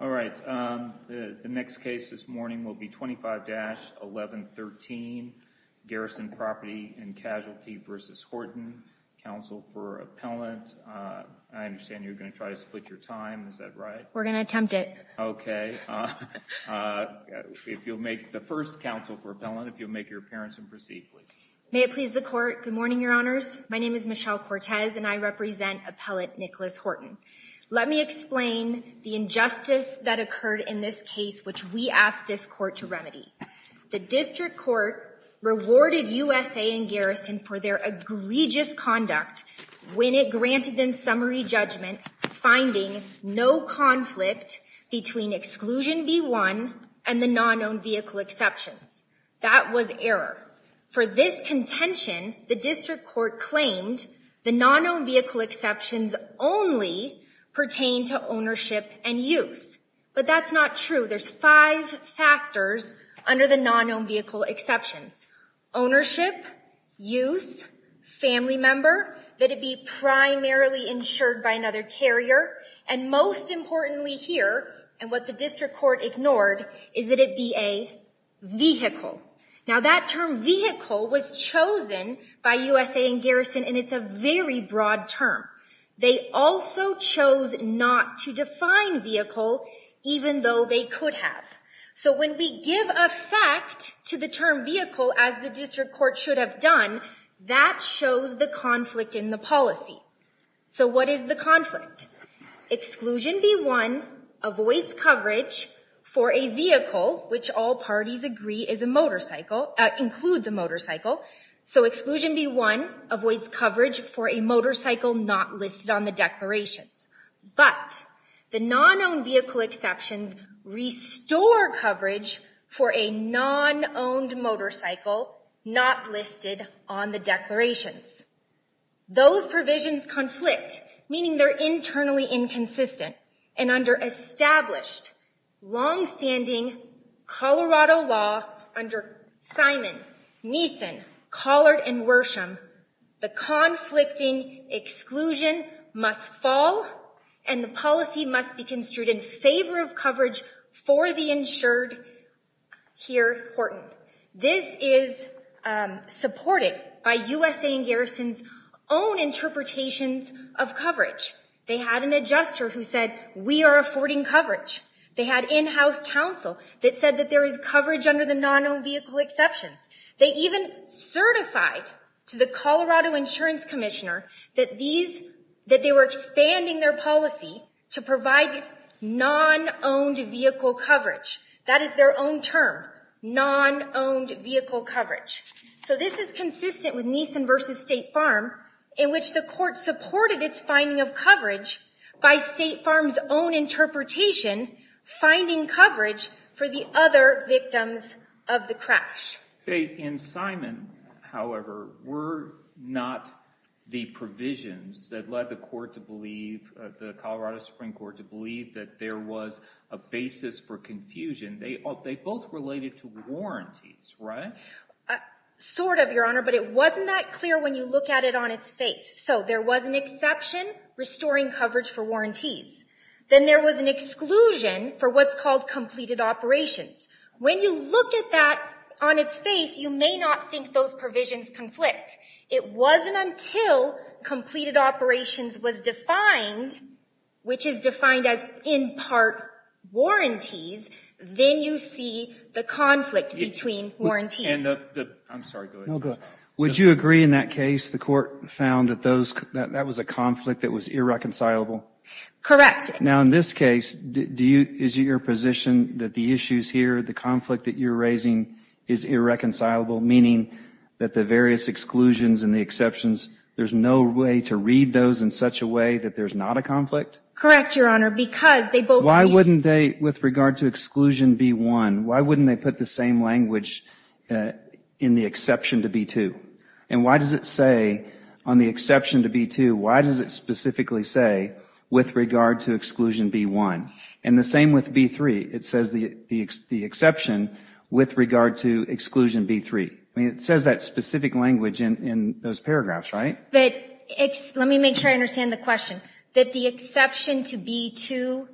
All right. The next case this morning will be 25-1113, Garrison Property and Casualty v. Horton, counsel for appellant. I understand you're gonna try to split your time, is that right? We're gonna attempt it. Okay. If you'll make the first counsel for appellant, if you'll make your appearance and proceed, please. May it please the court. Good morning, your honors. My name is Michelle Cortez and I represent appellant Nicholas Horton. Let me explain the injustice that occurred in this case which we asked this court to remedy. The district court rewarded USA and Garrison for their egregious conduct when it granted them summary judgment finding no conflict between exclusion B-1 and the non-owned vehicle exceptions. That was error. For this contention, the district court claimed the non-owned vehicle exceptions only pertain to ownership and use. But that's not true. There's five factors under the non-owned vehicle exceptions. Ownership, use, family member, that it be primarily insured by another carrier and most importantly here, and what the district court ignored, is that it be a vehicle. Now that term vehicle was chosen by USA and Garrison and it's a very broad term. They also chose not to define vehicle even though they could have. So when we give effect to the term vehicle as the district court should have done, that shows the conflict in the policy. So what is the conflict? Exclusion B-1 avoids coverage for a vehicle which all parties agree is a motorcycle, includes a motorcycle. So exclusion B-1 avoids coverage for a motorcycle not listed on the declarations. But the non-owned vehicle exceptions restore coverage for a non-owned motorcycle not listed on the declarations. Those provisions conflict, meaning they're internally inconsistent and under established longstanding Colorado law under Simon, Neeson, Collard, and Worsham, the conflicting exclusion must fall and the policy must be construed in favor of coverage for the insured here, Horton. This is supported by USA and Garrison's own interpretations of coverage. They had an adjuster who said, we are affording coverage. They had in-house counsel that said that there is coverage under the non-owned vehicle exceptions. They even certified to the Colorado Insurance Commissioner that they were expanding their policy to provide non-owned vehicle coverage. That is their own term, non-owned vehicle coverage. So this is consistent with Neeson versus State Farm in which the court supported its finding of coverage by State Farm's own interpretation, finding coverage for the other victims of the crash. In Simon, however, were not the provisions that led the court to believe, the Colorado Supreme Court to believe that there was a basis for confusion. They both related to warranties, right? Sort of, Your Honor, but it wasn't that clear when you look at it on its face. So there was an exception, restoring coverage for warranties. Then there was an exclusion for what's called completed operations. When you look at that on its face, you may not think those provisions conflict. It wasn't until completed operations was defined, which is defined as in part warranties, then you see the conflict between warranties. I'm sorry, go ahead. Would you agree in that case, the court found that that was a conflict that was irreconcilable? Correct. Now in this case, is it your position that the issues here, the conflict that you're raising is irreconcilable, meaning that the various exclusions and the exceptions, there's no way to read those in such a way that there's not a conflict? Correct, Your Honor, because they both... Why wouldn't they, with regard to exclusion B-1, why wouldn't they put the same language in the exception to B-2? And why does it say on the exception to B-2, why does it specifically say with regard to exclusion B-1? And the same with B-3. It says the exception with regard to exclusion B-3. I mean, it says that specific language in those paragraphs, right? Let me make sure I understand the question, that the exception to B-2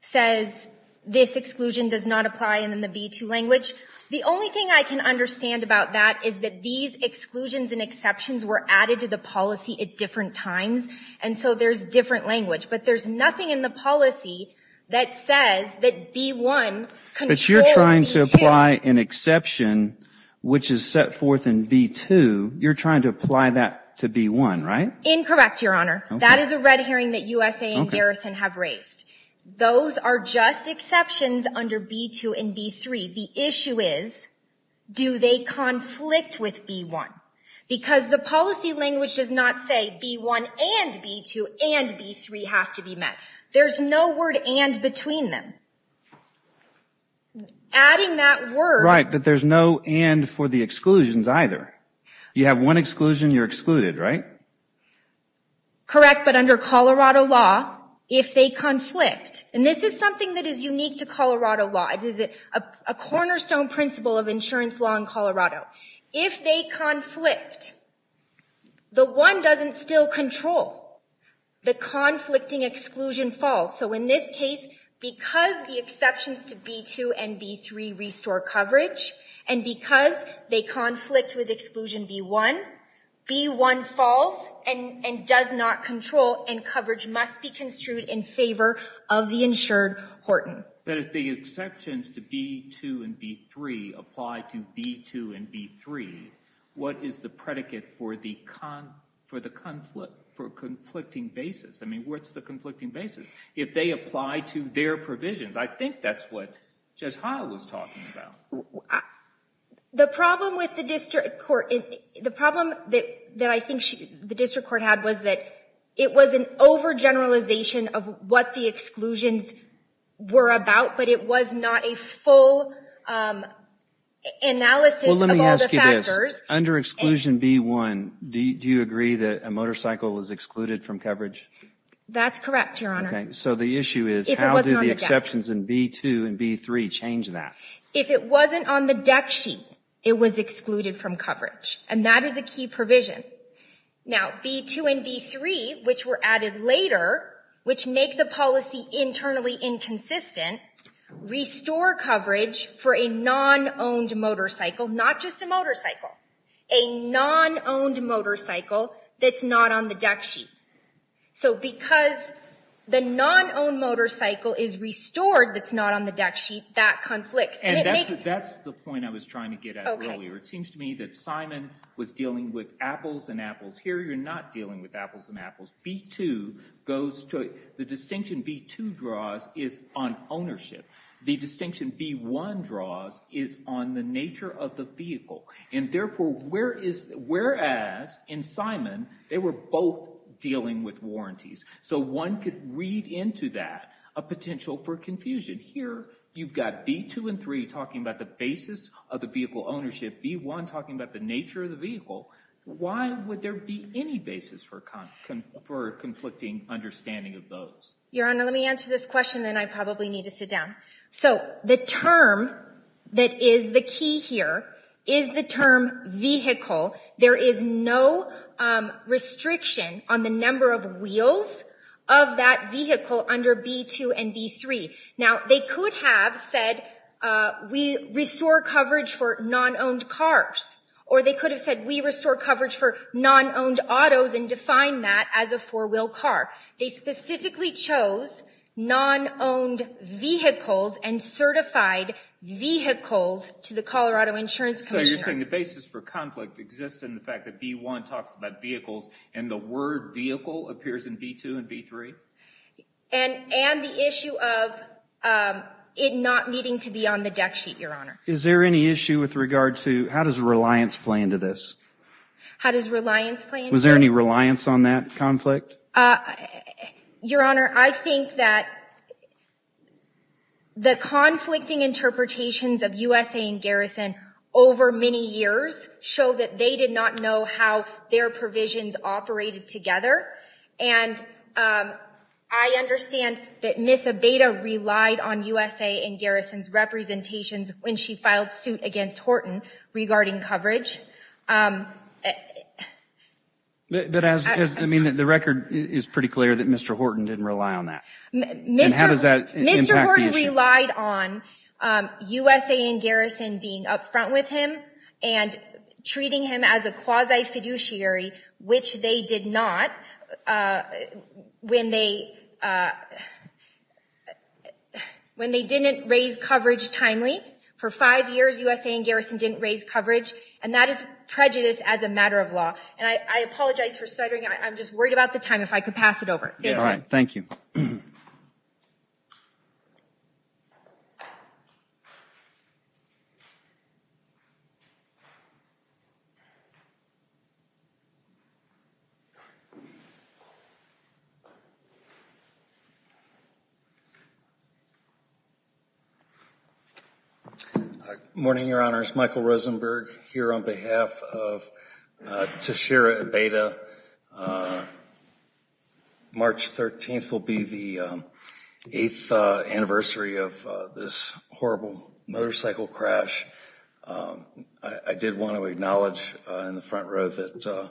says this exclusion does not apply in the B-2 language. The only thing I can understand about that is that these exclusions and exceptions were added to the policy at different times, and so there's different language, but there's nothing in the policy that says that B-1 controls B-2. But you're trying to apply an exception, which is set forth in B-2, you're trying to apply that to B-1, right? Incorrect, Your Honor. That is a red herring that USA and Garrison have raised. Those are just exceptions under B-2 and B-3. The issue is, do they conflict with B-1? Because the policy language does not say B-1 and B-2 and B-3 have to be met. There's no word and between them. Adding that word. Right, but there's no and for the exclusions either. You have one exclusion, you're excluded, right? Correct, but under Colorado law, if they conflict, and this is something that is unique to Colorado law, it is a cornerstone principle of insurance law in Colorado. If they conflict, the one doesn't still control. The conflicting exclusion falls. So in this case, because the exceptions to B-2 and B-3 restore coverage, and because they conflict with exclusion B-1, B-1 falls and does not control and coverage must be construed in favor of the insured Horton. But if the exceptions to B-2 and B-3 apply to B-2 and B-3, what is the predicate for the conflict, for conflicting basis? I mean, what's the conflicting basis? If they apply to their provisions, I think that's what Jez Haya was talking about. The problem with the district court, the problem that I think the district court had was that it was an overgeneralization of what the exclusions were about, but it was not a full analysis of all the factors. Under exclusion B-1, do you agree that a motorcycle was excluded from coverage? That's correct, Your Honor. So the issue is, how do the exceptions in B-2 and B-3 change that? If it wasn't on the deck sheet, it was excluded from coverage, and that is a key provision. Now, B-2 and B-3, which were added later, which make the policy internally inconsistent, restore coverage for a non-owned motorcycle, not just a motorcycle, a non-owned motorcycle that's not on the deck sheet. So because the non-owned motorcycle is restored that's not on the deck sheet, that conflicts. And it makes- That's the point I was trying to get at earlier. It seems to me that Simon was dealing with apples and apples. Here, you're not dealing with apples and apples. B-2 goes to, the distinction B-2 draws is on ownership. The distinction B-1 draws is on the nature of the vehicle. And therefore, whereas in Simon, they were both dealing with warranties. So one could read into that a potential for confusion. Here, you've got B-2 and B-3 talking about the basis of the vehicle ownership, B-1 talking about the nature of the vehicle. Why would there be any basis for conflicting understanding of those? Your Honor, let me answer this question then I probably need to sit down. So the term that is the key here is the term vehicle. There is no restriction on the number of wheels of that vehicle under B-2 and B-3. Now they could have said, we restore coverage for non-owned cars. Or they could have said, we restore coverage for non-owned autos and define that as a four-wheel car. They specifically chose non-owned vehicles and certified vehicles to the Colorado Insurance Commission. So you're saying the basis for conflict exists in the fact that B-1 talks about vehicles and the word vehicle appears in B-2 and B-3? And the issue of it not needing to be on the deck sheet, Your Honor. Is there any issue with regard to, how does reliance play into this? How does reliance play into this? Was there any reliance on that conflict? Your Honor, I think that the conflicting interpretations of USA and Garrison over many years show that they did not know how their provisions operated together. And I understand that Ms. Abeyta relied on USA and Garrison's representations when she filed suit against Horton regarding coverage. But as, I mean, the record is pretty clear that Mr. Horton didn't rely on that. Mr. Horton relied on USA and Garrison being up front with him and treating him as a quasi-fiduciary, which they did not when they, when they didn't raise coverage timely. For five years, USA and Garrison didn't raise coverage. And that is prejudice as a matter of law. And I apologize for stuttering. I'm just worried about the time, if I could pass it over. Thank you. All right, thank you. Morning, Your Honors. Michael Rosenberg here on behalf of Tashira Abeyta. March 13th will be the eighth anniversary of this horrible motorcycle crash. I did want to acknowledge in the front row that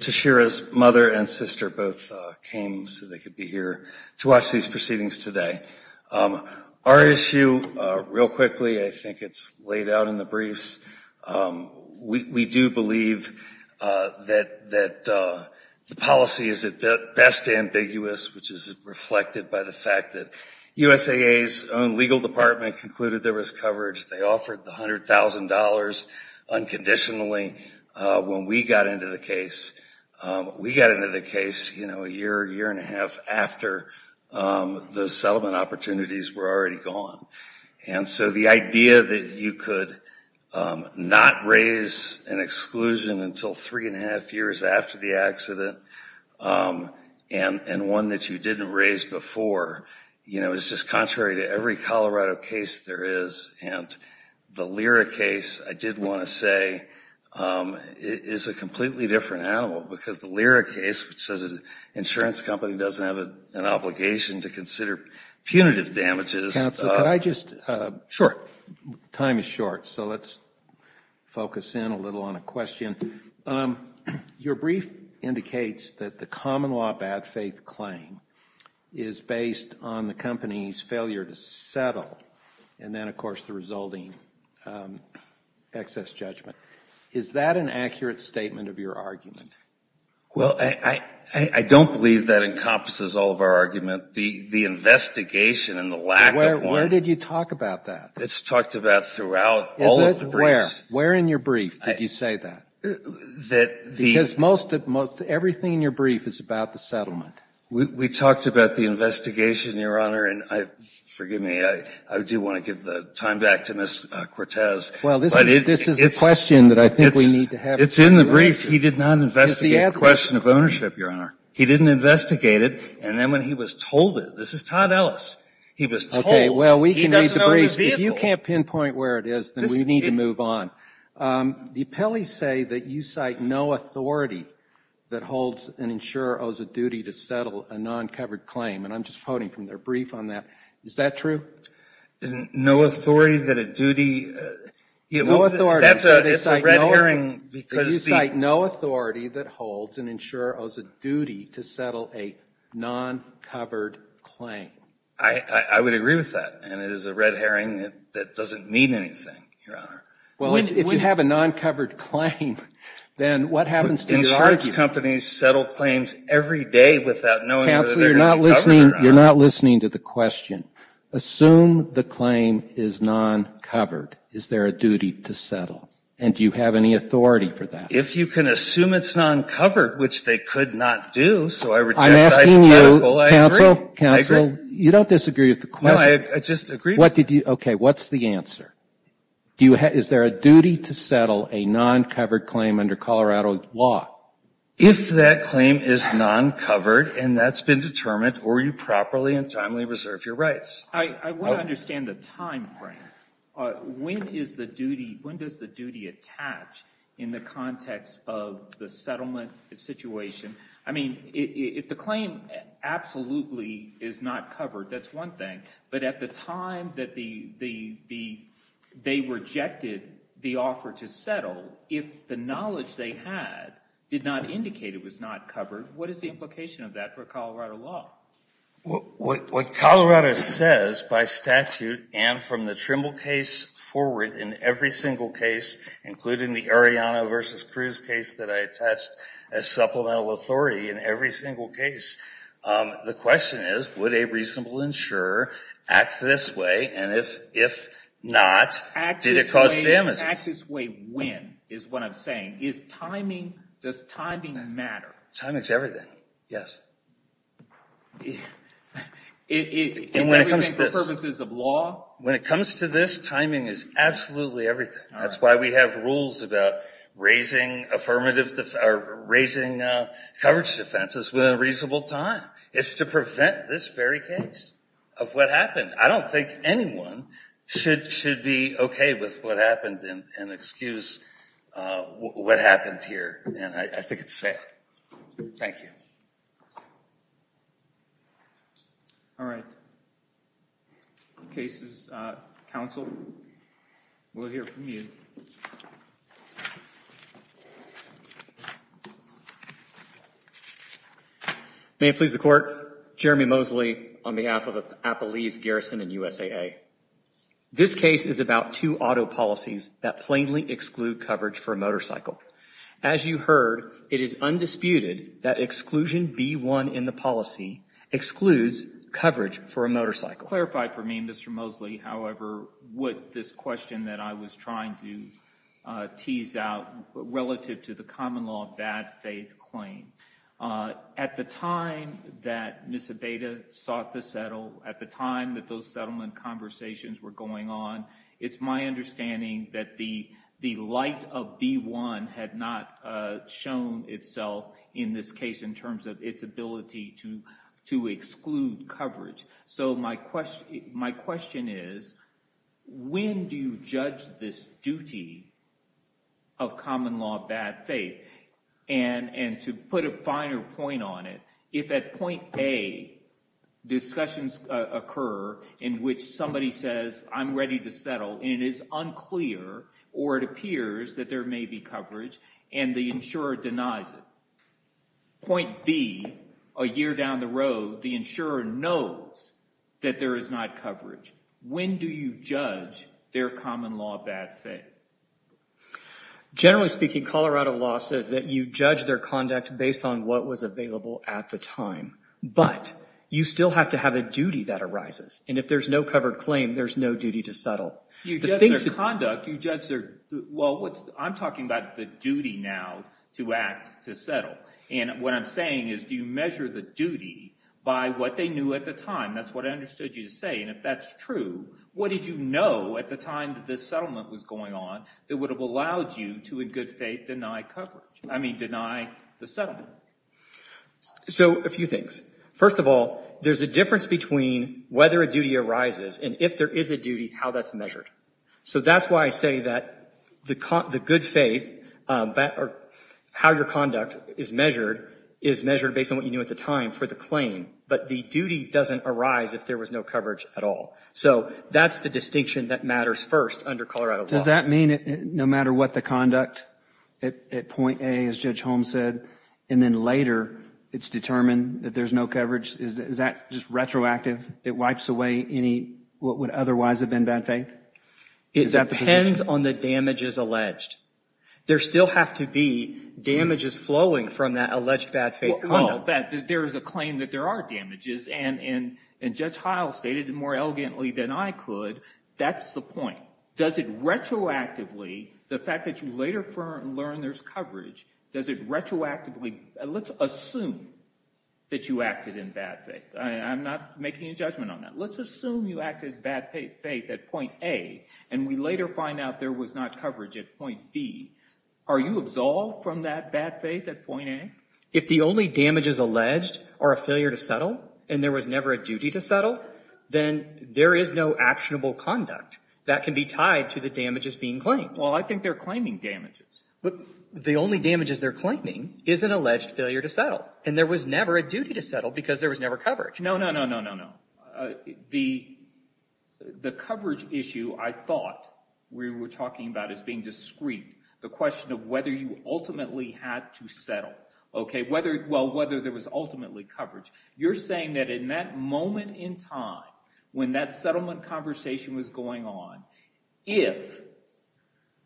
Tashira's mother and sister both came so they could be here to watch these proceedings today. Our issue, real quickly, I think it's laid out in the briefs. We do believe that the policy is at best ambiguous, which is reflected by the fact that USAA's own legal department concluded there was coverage. They offered the $100,000 unconditionally when we got into the case. We got into the case a year, year and a half after the settlement opportunities were already gone. And so the idea that you could not raise an exclusion until three and a half years after the accident, and one that you didn't raise before, you know, it's just contrary to every Colorado case there is. And the Lyra case, I did want to say, is a completely different animal. Because the Lyra case, which says an insurance company doesn't have an obligation to consider punitive damages. Counsel, could I just? Time is short, so let's focus in a little on a question. Your brief indicates that the common law bad faith claim is based on the company's failure to settle, and then of course the resulting excess judgment. Is that an accurate statement of your argument? Well, I don't believe that encompasses all of our argument. The investigation and the lack of one. Where did you talk about that? It's talked about throughout all of the briefs. Where in your brief did you say that? Because most, everything in your brief is about the settlement. We talked about the investigation, Your Honor, and forgive me, I do want to give the time back to Ms. Cortez. Well, this is a question that I think we need to have. It's in the brief. He did not investigate the question of ownership, Your Honor. He didn't investigate it, and then when he was told it, this is Todd Ellis, he was told he doesn't own his vehicle. If you can't pinpoint where it is, then we need to move on. The appellees say that you cite no authority that holds an insurer owes a duty to settle a non-covered claim, and I'm just quoting from their brief on that. Is that true? No authority that a duty, that's a red herring because the. You cite no authority that holds an insurer owes a duty to settle a non-covered claim. I would agree with that, and it is a red herring that doesn't mean anything, Well, if you have a non-covered claim, then what happens to the argument? Insurance companies settle claims every day without knowing that they're gonna be covered, Your Honor. You're not listening to the question. Assume the claim is non-covered. Is there a duty to settle, and do you have any authority for that? If you can assume it's non-covered, which they could not do, so I reject that article, I agree. I'm asking you, counsel, counsel, you don't disagree with the question. No, I just agree with it. Okay, what's the answer? Is there a duty to settle a non-covered claim under Colorado law? If that claim is non-covered, and that's been determined, or you properly and timely reserve your rights. I wanna understand the timeframe. When is the duty, when does the duty attach in the context of the settlement situation? I mean, if the claim absolutely is not covered, that's one thing, but at the time that they rejected the offer to settle, if the knowledge they had did not indicate it was not covered, what is the implication of that for Colorado law? What Colorado says, by statute, and from the Trimble case forward, in every single case, including the Arellano versus Cruz case that I attached as supplemental authority in every single case, the question is, would a reasonable insurer act this way, and if not, did it cause damage? Act this way when, is what I'm saying. Is timing, does timing matter? Timing's everything, yes. And when it comes to this. Is everything for purposes of law? When it comes to this, timing is absolutely everything. That's why we have rules about raising affirmative, or raising coverage defenses within a reasonable time. It's to prevent this very case of what happened. I don't think anyone should be okay with what happened and excuse what happened here, and I think it's sad. Thank you. All right. Case's counsel will hear from you. May it please the court. Jeremy Moseley on behalf of Appalese Garrison and USAA. This case is about two auto policies that plainly exclude coverage for a motorcycle. As you heard, it is undisputed that exclusion B1 in the policy excludes coverage for a motorcycle. Clarify for me, Mr. Moseley, however, what this question that I was trying to tease out relative to the common law of bad faith claim. At the time that Miss Abeyta sought to settle, at the time that those settlement conversations were going on, it's my understanding that the light of B1 had not shown itself in this case in terms of its ability to exclude coverage. So my question is, when do you judge this duty of common law of bad faith? And to put a finer point on it, if at point A, discussions occur in which somebody says, I'm ready to settle, and it's unclear or it appears that there may be coverage and the insurer denies it. Point B, a year down the road, the insurer knows that there is not coverage. When do you judge their common law of bad faith? Generally speaking, Colorado law says that you judge their conduct based on what was available at the time. But you still have to have a duty that arises. And if there's no covered claim, there's no duty to settle. You judge their conduct, you judge their, well, I'm talking about the duty now to act, to settle. And what I'm saying is, do you measure the duty by what they knew at the time? That's what I understood you to say. And if that's true, what did you know at the time that this settlement was going on that would have allowed you to, in good faith, deny coverage, I mean, deny the settlement? So a few things. First of all, there's a difference between whether a duty arises and if there is a duty, how that's measured. So that's why I say that the good faith, how your conduct is measured, is measured based on what you knew at the time for the claim, but the duty doesn't arise if there was no coverage at all. So that's the distinction that matters first under Colorado law. Does that mean that no matter what the conduct, at point A, as Judge Holmes said, and then later, it's determined that there's no coverage, is that just retroactive? It wipes away any, what would otherwise have been bad faith? Is that the position? It depends on the damages alleged. There still have to be damages flowing from that alleged bad faith conduct. There is a claim that there are damages, and Judge Heil stated more elegantly than I could, that's the point. Does it retroactively, the fact that you later learn there's coverage, does it retroactively, let's assume that you acted in bad faith. I'm not making a judgment on that. Let's assume you acted in bad faith at point A, and we later find out there was not coverage at point B. Are you absolved from that bad faith at point A? If the only damages alleged are a failure to settle, and there was never a duty to settle, then there is no actionable conduct that can be tied to the damages being claimed. Well, I think they're claiming damages. But the only damages they're claiming is an alleged failure to settle, and there was never a duty to settle because there was never coverage. No, no, no, no, no, no. The coverage issue, I thought, we were talking about as being discreet, the question of whether you ultimately had to settle, okay, well, whether there was ultimately coverage. You're saying that in that moment in time, when that settlement conversation was going on, if,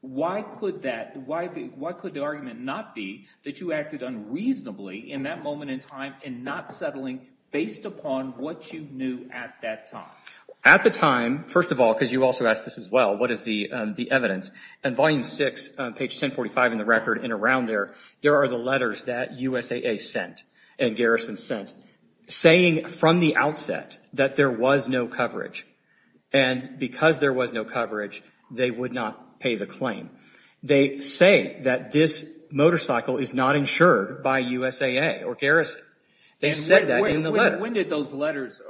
why could that, why could the argument not be that you acted unreasonably in that moment in time and not settling based upon what you knew at that time? At the time, first of all, because you also asked this as well, what is the evidence? And volume six, page 1045 in the record and around there, there are the letters that USAA sent and Garrison sent saying from the outset that there was no coverage. And because there was no coverage, they would not pay the claim. They say that this motorcycle is not insured by USAA or Garrison. They said that in the letter. When did those letters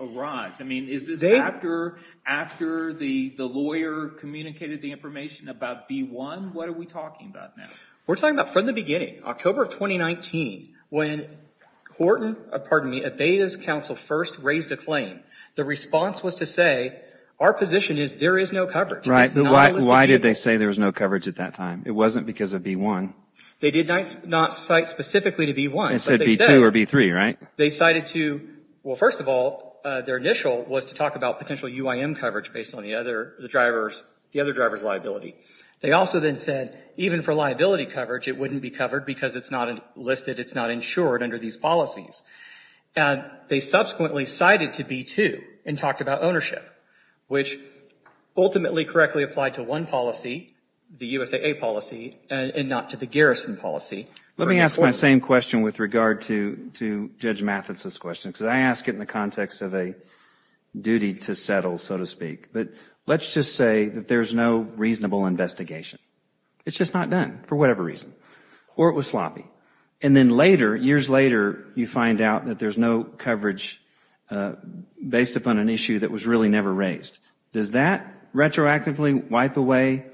arise? I mean, is this after the lawyer communicated the information about B-1? What are we talking about now? We're talking about from the beginning, October of 2019, when Horton, pardon me, Abeyta's counsel first raised a claim. The response was to say, our position is there is no coverage. Right, but why did they say there was no coverage at that time? It wasn't because of B-1. They did not cite specifically to B-1. They said B-2 or B-3, right? They cited to, well, first of all, their initial was to talk about potential UIM coverage based on the other driver's liability. They also then said, even for liability coverage, it wouldn't be covered because it's not listed, it's not insured under these policies. And they subsequently cited to B-2 and talked about ownership, which ultimately correctly applied to one policy, the USAA policy, and not to the Garrison policy. Let me ask my same question with regard to Judge Mathis's question, because I ask it in the context of a duty to settle, so to speak. But let's just say that there's no reasonable investigation. It's just not done, for whatever reason. Or it was sloppy. And then later, years later, you find out that there's no coverage based upon an issue that was really never raised. Does that retroactively wipe away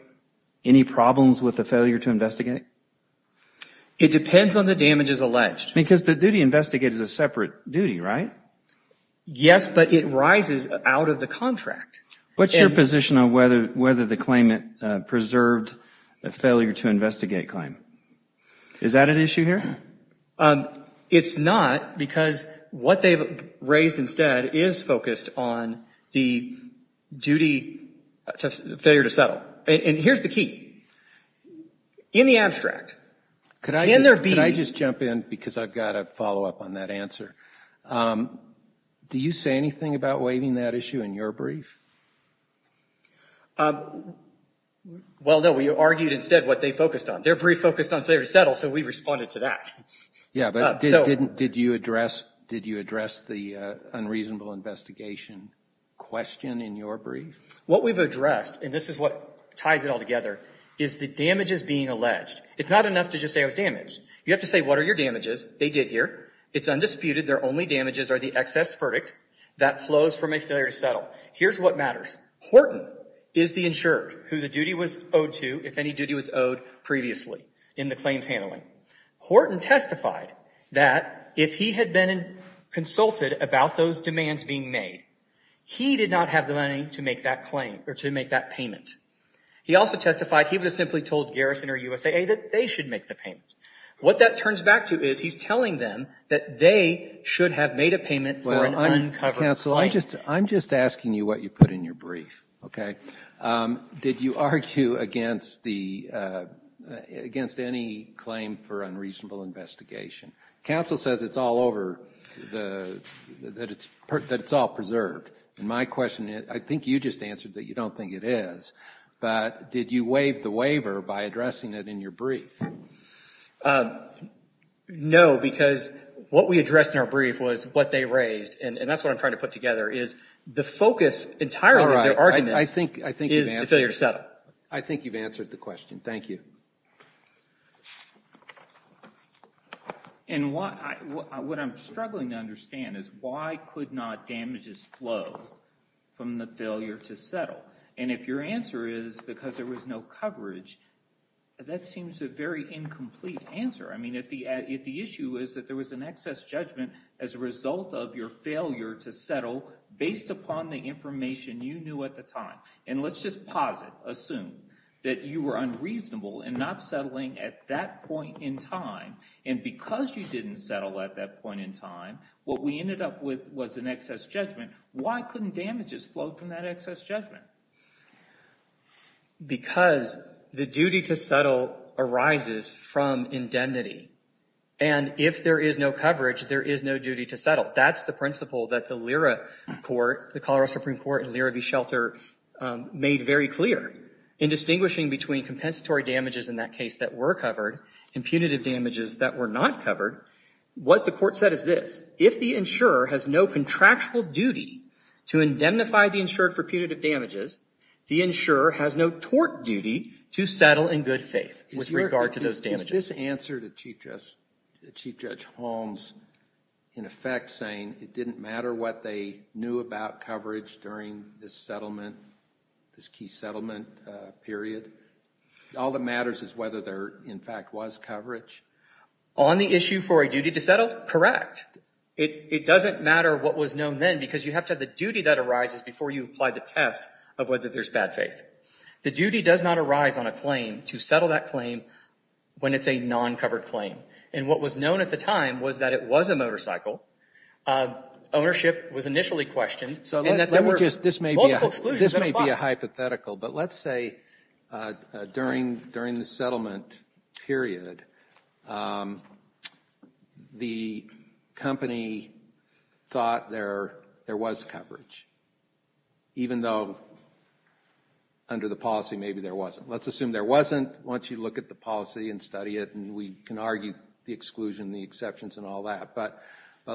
any problems with the failure to investigate? It depends on the damages alleged. Because the duty investigated is a separate duty, right? Yes, but it rises out of the contract. What's your position on whether the claimant preserved the failure to investigate claim? Is that an issue here? It's not, because what they've raised instead is focused on the duty, failure to settle. And here's the key. In the abstract, can there be? Could I just jump in, because I've got a follow-up on that answer. Do you say anything about waiving that issue in your brief? Well, no, we argued instead what they focused on. Their brief focused on failure to settle, so we responded to that. Yeah, but did you address the unreasonable investigation question in your brief? What we've addressed, and this is what ties it all together, is the damages being alleged. It's not enough to just say it was damage. You have to say, what are your damages? They did here. It's undisputed. Their only damages are the excess verdict that flows from a failure to settle. Here's what matters. Horton is the insured who the duty was owed to if any duty was owed previously in the claims handling. Horton testified that if he had been consulted about those demands being made, he did not have the money to make that claim, or to make that payment. He also testified he would have simply told Garrison or USAA that they should make the payment. What that turns back to is he's telling them that they should have made a payment for an uncovered claim. I'm just asking you what you put in your brief, okay? Did you argue against any claim for unreasonable investigation? Counsel says it's all over, that it's all preserved, and my question, I think you just answered that you don't think it is, but did you waive the waiver by addressing it in your brief? No, because what we addressed in our brief was what they raised, and that's what I'm trying to put together, is the focus entirely of their arguments. Is the failure settled? I think you've answered the question. Thank you. And what I'm struggling to understand is why could not damages flow from the failure to settle? And if your answer is because there was no coverage, that seems a very incomplete answer. I mean, if the issue is that there was an excess judgment as a result of your failure to settle based upon the information you knew at the time, and let's just pause it, assume that you were unreasonable and not settling at that point in time, and because you didn't settle at that point in time, what we ended up with was an excess judgment, why couldn't damages flow from that excess judgment? Because the duty to settle arises from indemnity, and if there is no coverage, there is no duty to settle. That's the principle that the LERA court, the Colorado Supreme Court and LERA v. Shelter made very clear in distinguishing between compensatory damages in that case that were covered and punitive damages that were not covered. What the court said is this. If the insurer has no contractual duty to indemnify the insured for punitive damages, the insurer has no tort duty to settle in good faith with regard to those damages. Did this answer to Chief Judge Holmes in effect saying it didn't matter what they knew about coverage during this settlement, this key settlement period? All that matters is whether there in fact was coverage? On the issue for a duty to settle, correct. It doesn't matter what was known then because you have to have the duty that arises before you apply the test of whether there's bad faith. The duty does not arise on a claim to settle that claim when it's a non-covered claim. And what was known at the time was that it was a motorcycle. Ownership was initially questioned. So this may be a hypothetical, but let's say during the settlement period, the company thought there was coverage even though under the policy maybe there wasn't. Let's assume there wasn't. Once you look at the policy and study it, and we can argue the exclusion, the exceptions and all that. But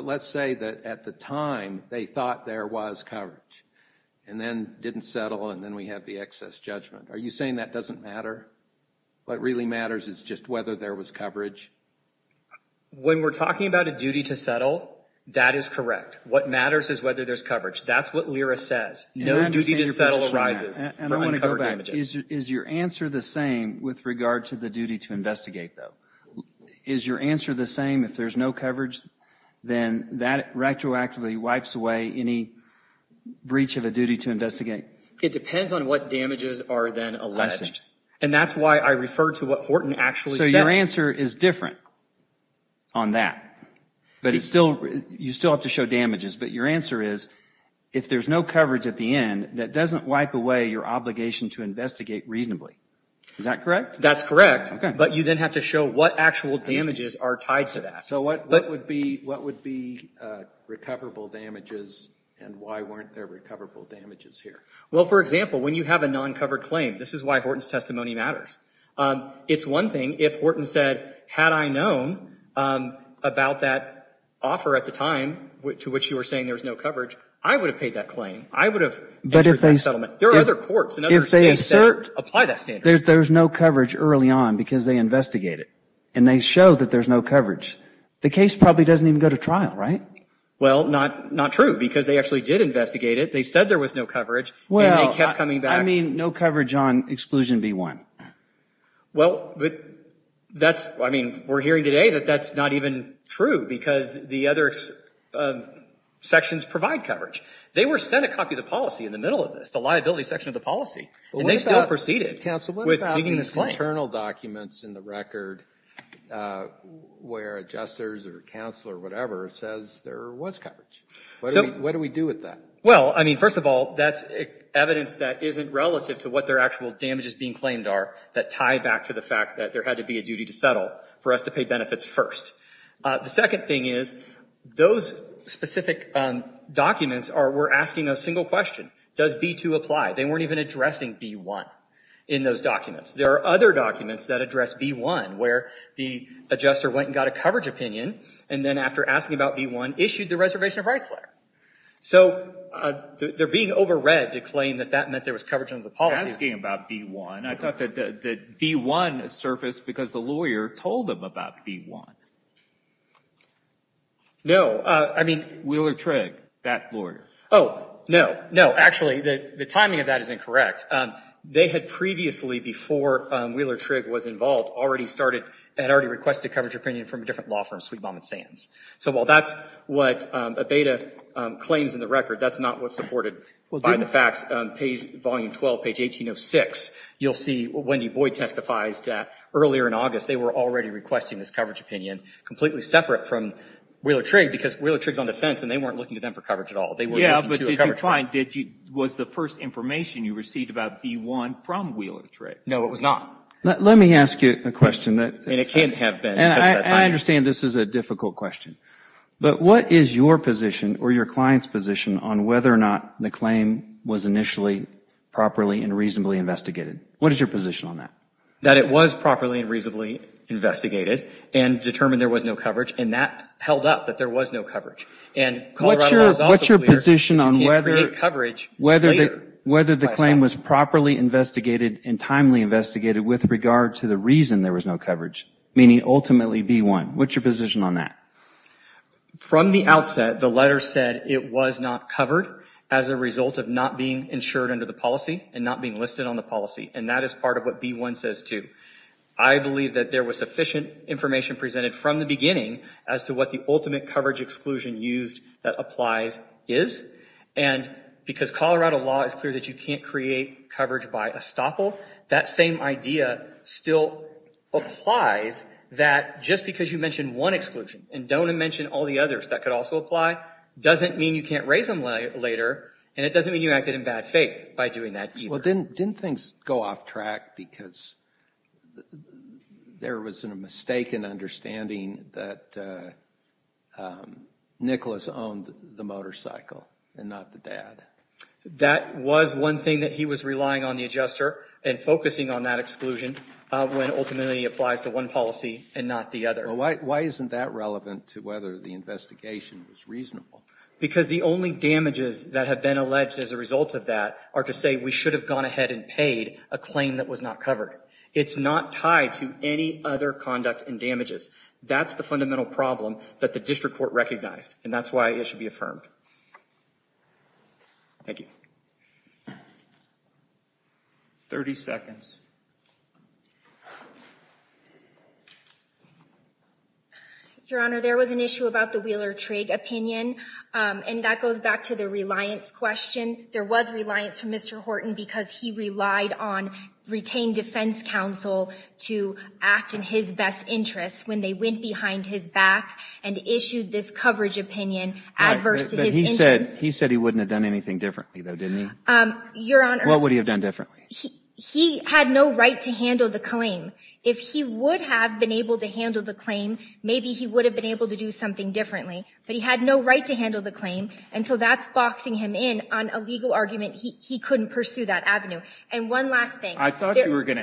let's say that at the time they thought there was coverage and then didn't settle and then we have the excess judgment. Are you saying that doesn't matter? What really matters is just whether there was coverage? When we're talking about a duty to settle, that is correct. What matters is whether there's coverage. That's what Lyra says. No duty to settle arises from uncovered damages. Is your answer the same with regard to the duty to investigate though? Is your answer the same if there's no coverage, then that retroactively wipes away any breach of a duty to investigate? It depends on what damages are then alleged. And that's why I referred to what Horton actually said. So your answer is different on that. But you still have to show damages. But your answer is if there's no coverage at the end that doesn't wipe away your obligation to investigate reasonably. Is that correct? That's correct. But you then have to show what actual damages are tied to that. So what would be recoverable damages and why weren't there recoverable damages here? Well, for example, when you have a non-covered claim, this is why Horton's testimony matters. It's one thing if Horton said, had I known about that offer at the time to which you were saying there was no coverage, I would have paid that claim. I would have entered that settlement. There are other courts and other states that apply that standard. If there's no coverage early on because they investigate it and they show that there's no coverage, the case probably doesn't even go to trial, right? Well, not true because they actually did investigate it. They said there was no coverage and they kept coming back. I mean, no coverage on exclusion B-1. Well, that's, I mean, we're hearing today that that's not even true because the other sections provide coverage. They were sent a copy of the policy in the middle of this, the liability section of the policy, and they still proceeded with making this claim. What about these internal documents in the record where adjusters or counsel or whatever says there was coverage? What do we do with that? Well, I mean, first of all, that's evidence that isn't relative to what their actual damages being claimed are that tie back to the fact that there had to be a duty to settle for us to pay benefits first. The second thing is those specific documents were asking a single question. Does B-2 apply? They weren't even addressing B-1 in those documents. There are other documents that address B-1 where the adjuster went and got a coverage opinion and then after asking about B-1 issued the reservation of rights letter. So they're being overread to claim that that meant there was coverage under the policy. Asking about B-1. I thought that B-1 surfaced because the lawyer told them about B-1. No, I mean, Wheeler-Trigg, that lawyer. Oh, no, no. Actually, the timing of that is incorrect. They had previously, before Wheeler-Trigg was involved, already started, had already requested coverage opinion from a different law firm, Sweet Mom and Sam's. So while that's what Abeyta claims in the record, that's not what's supported by the facts. Page, volume 12, page 1806, you'll see Wendy Boyd testifies that earlier in August they were already requesting this coverage opinion completely separate from Wheeler-Trigg because Wheeler-Trigg's on defense and they weren't looking to them for coverage at all. They were looking to a coverage firm. Yeah, but did you find, was the first information you received about B-1 from Wheeler-Trigg? No, it was not. Let me ask you a question that. And it can't have been because of the timing. I understand this is a difficult question. But what is your position or your client's position on whether or not the claim was initially properly and reasonably investigated? What is your position on that? That it was properly and reasonably investigated and determined there was no coverage and that held up, that there was no coverage. And Colorado Law is also clear that you can't create coverage later. Whether the claim was properly investigated and timely investigated with regard to the reason there was no coverage, meaning ultimately B-1. What's your position on that? From the outset, the letter said it was not covered as a result of not being insured under the policy and not being listed on the policy. And that is part of what B-1 says too. I believe that there was sufficient information presented from the beginning as to what the ultimate coverage exclusion used that applies is. And because Colorado Law is clear that you can't create coverage by estoppel, that same idea still applies that just because you mention one exclusion and don't mention all the others that could also apply doesn't mean you can't raise them later and it doesn't mean you acted in bad faith by doing that either. Well, didn't things go off track because there was a mistaken understanding that Nicholas owned the motorcycle and not the dad? That was one thing that he was relying on the adjuster and focusing on that exclusion when ultimately it applies to one policy and not the other. Why isn't that relevant to whether the investigation was reasonable? Because the only damages that have been alleged as a result of that are to say we should have gone ahead and paid a claim that was not covered. It's not tied to any other conduct and damages. That's the fundamental problem that the district court recognized and that's why it should be affirmed. Thank you. 30 seconds. Your Honor, there was an issue about the Wheeler-Trig opinion and that goes back to the reliance question. There was reliance from Mr. Horton because he relied on retained defense counsel to act in his best interest when they went behind his back and issued this coverage opinion adverse to his interests. He said he wouldn't have done anything differently though, didn't he? Your Honor. What would he have done differently? He had no intention of doing anything differently. He had no right to handle the claim. If he would have been able to handle the claim, maybe he would have been able to do something differently, but he had no right to handle the claim and so that's boxing him in on a legal argument. He couldn't pursue that avenue. And one last thing. I thought you were gonna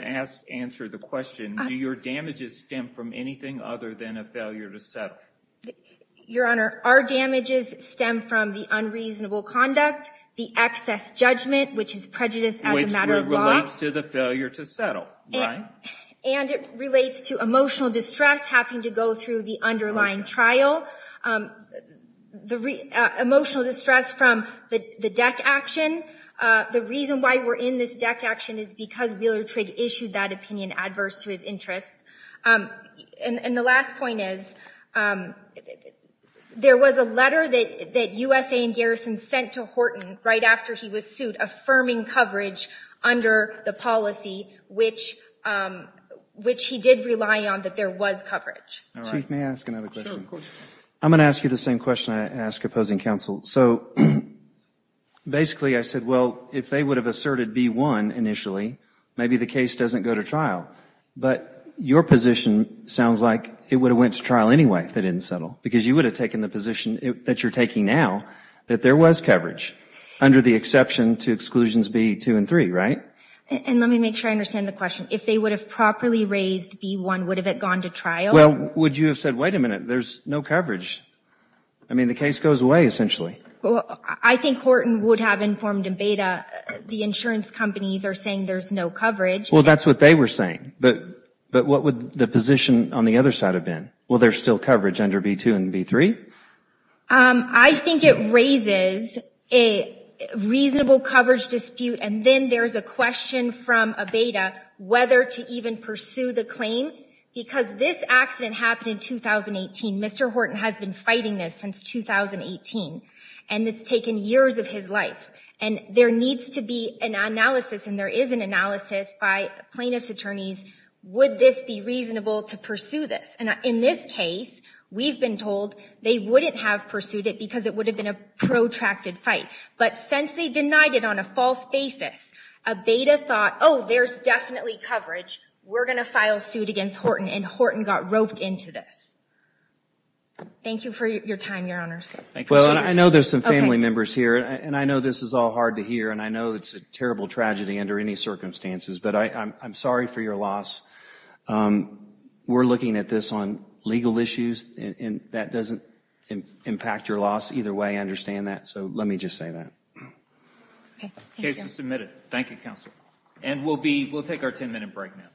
answer the question. Do your damages stem from anything other than a failure to settle? Your Honor, our damages stem from the unreasonable conduct, the excess judgment, which is prejudiced as a matter of law. And it relates to the failure to settle, right? And it relates to emotional distress, having to go through the underlying trial. The emotional distress from the deck action. The reason why we're in this deck action is because Wheeler Trigg issued that opinion adverse to his interests. And the last point is, there was a letter that USA and Garrison sent to Horton right after he was sued affirming coverage under the policy which he did rely on that there was coverage. Chief, may I ask another question? I'm gonna ask you the same question I ask opposing counsel. So basically I said, well, if they would have asserted B-1 initially, maybe the case doesn't go to trial. But your position sounds like it would have went to trial anyway if they didn't settle. Because you would have taken the position that you're taking now, that there was coverage under the exception to exclusions B-2 and B-3, right? And let me make sure I understand the question. If they would have properly raised B-1, would have it gone to trial? Well, would you have said, wait a minute, there's no coverage? I mean, the case goes away essentially. I think Horton would have informed in beta the insurance companies are saying there's no coverage. Well, that's what they were saying. But what would the position on the other side have been? Well, there's still coverage under B-2 and B-3? I think it raises a reasonable coverage dispute. And then there's a question from a beta whether to even pursue the claim. Because this accident happened in 2018. Mr. Horton has been fighting this since 2018. And it's taken years of his life. And there needs to be an analysis. And there is an analysis by plaintiff's attorneys. Would this be reasonable to pursue this? And in this case, we've been told they wouldn't have pursued it because it would have been a protracted fight. But since they denied it on a false basis, a beta thought, oh, there's definitely coverage. We're gonna file suit against Horton. And Horton got roped into this. Thank you for your time, your honors. Thank you. Well, and I know there's some family members here. And I know this is all hard to hear. And I know it's a terrible tragedy under any circumstances. But I'm sorry for your loss. We're looking at this on legal issues. And that doesn't impact your loss either way. I understand that. So let me just say that. Okay, thank you. Case is submitted. Thank you, counsel. And we'll take our 10-minute break now.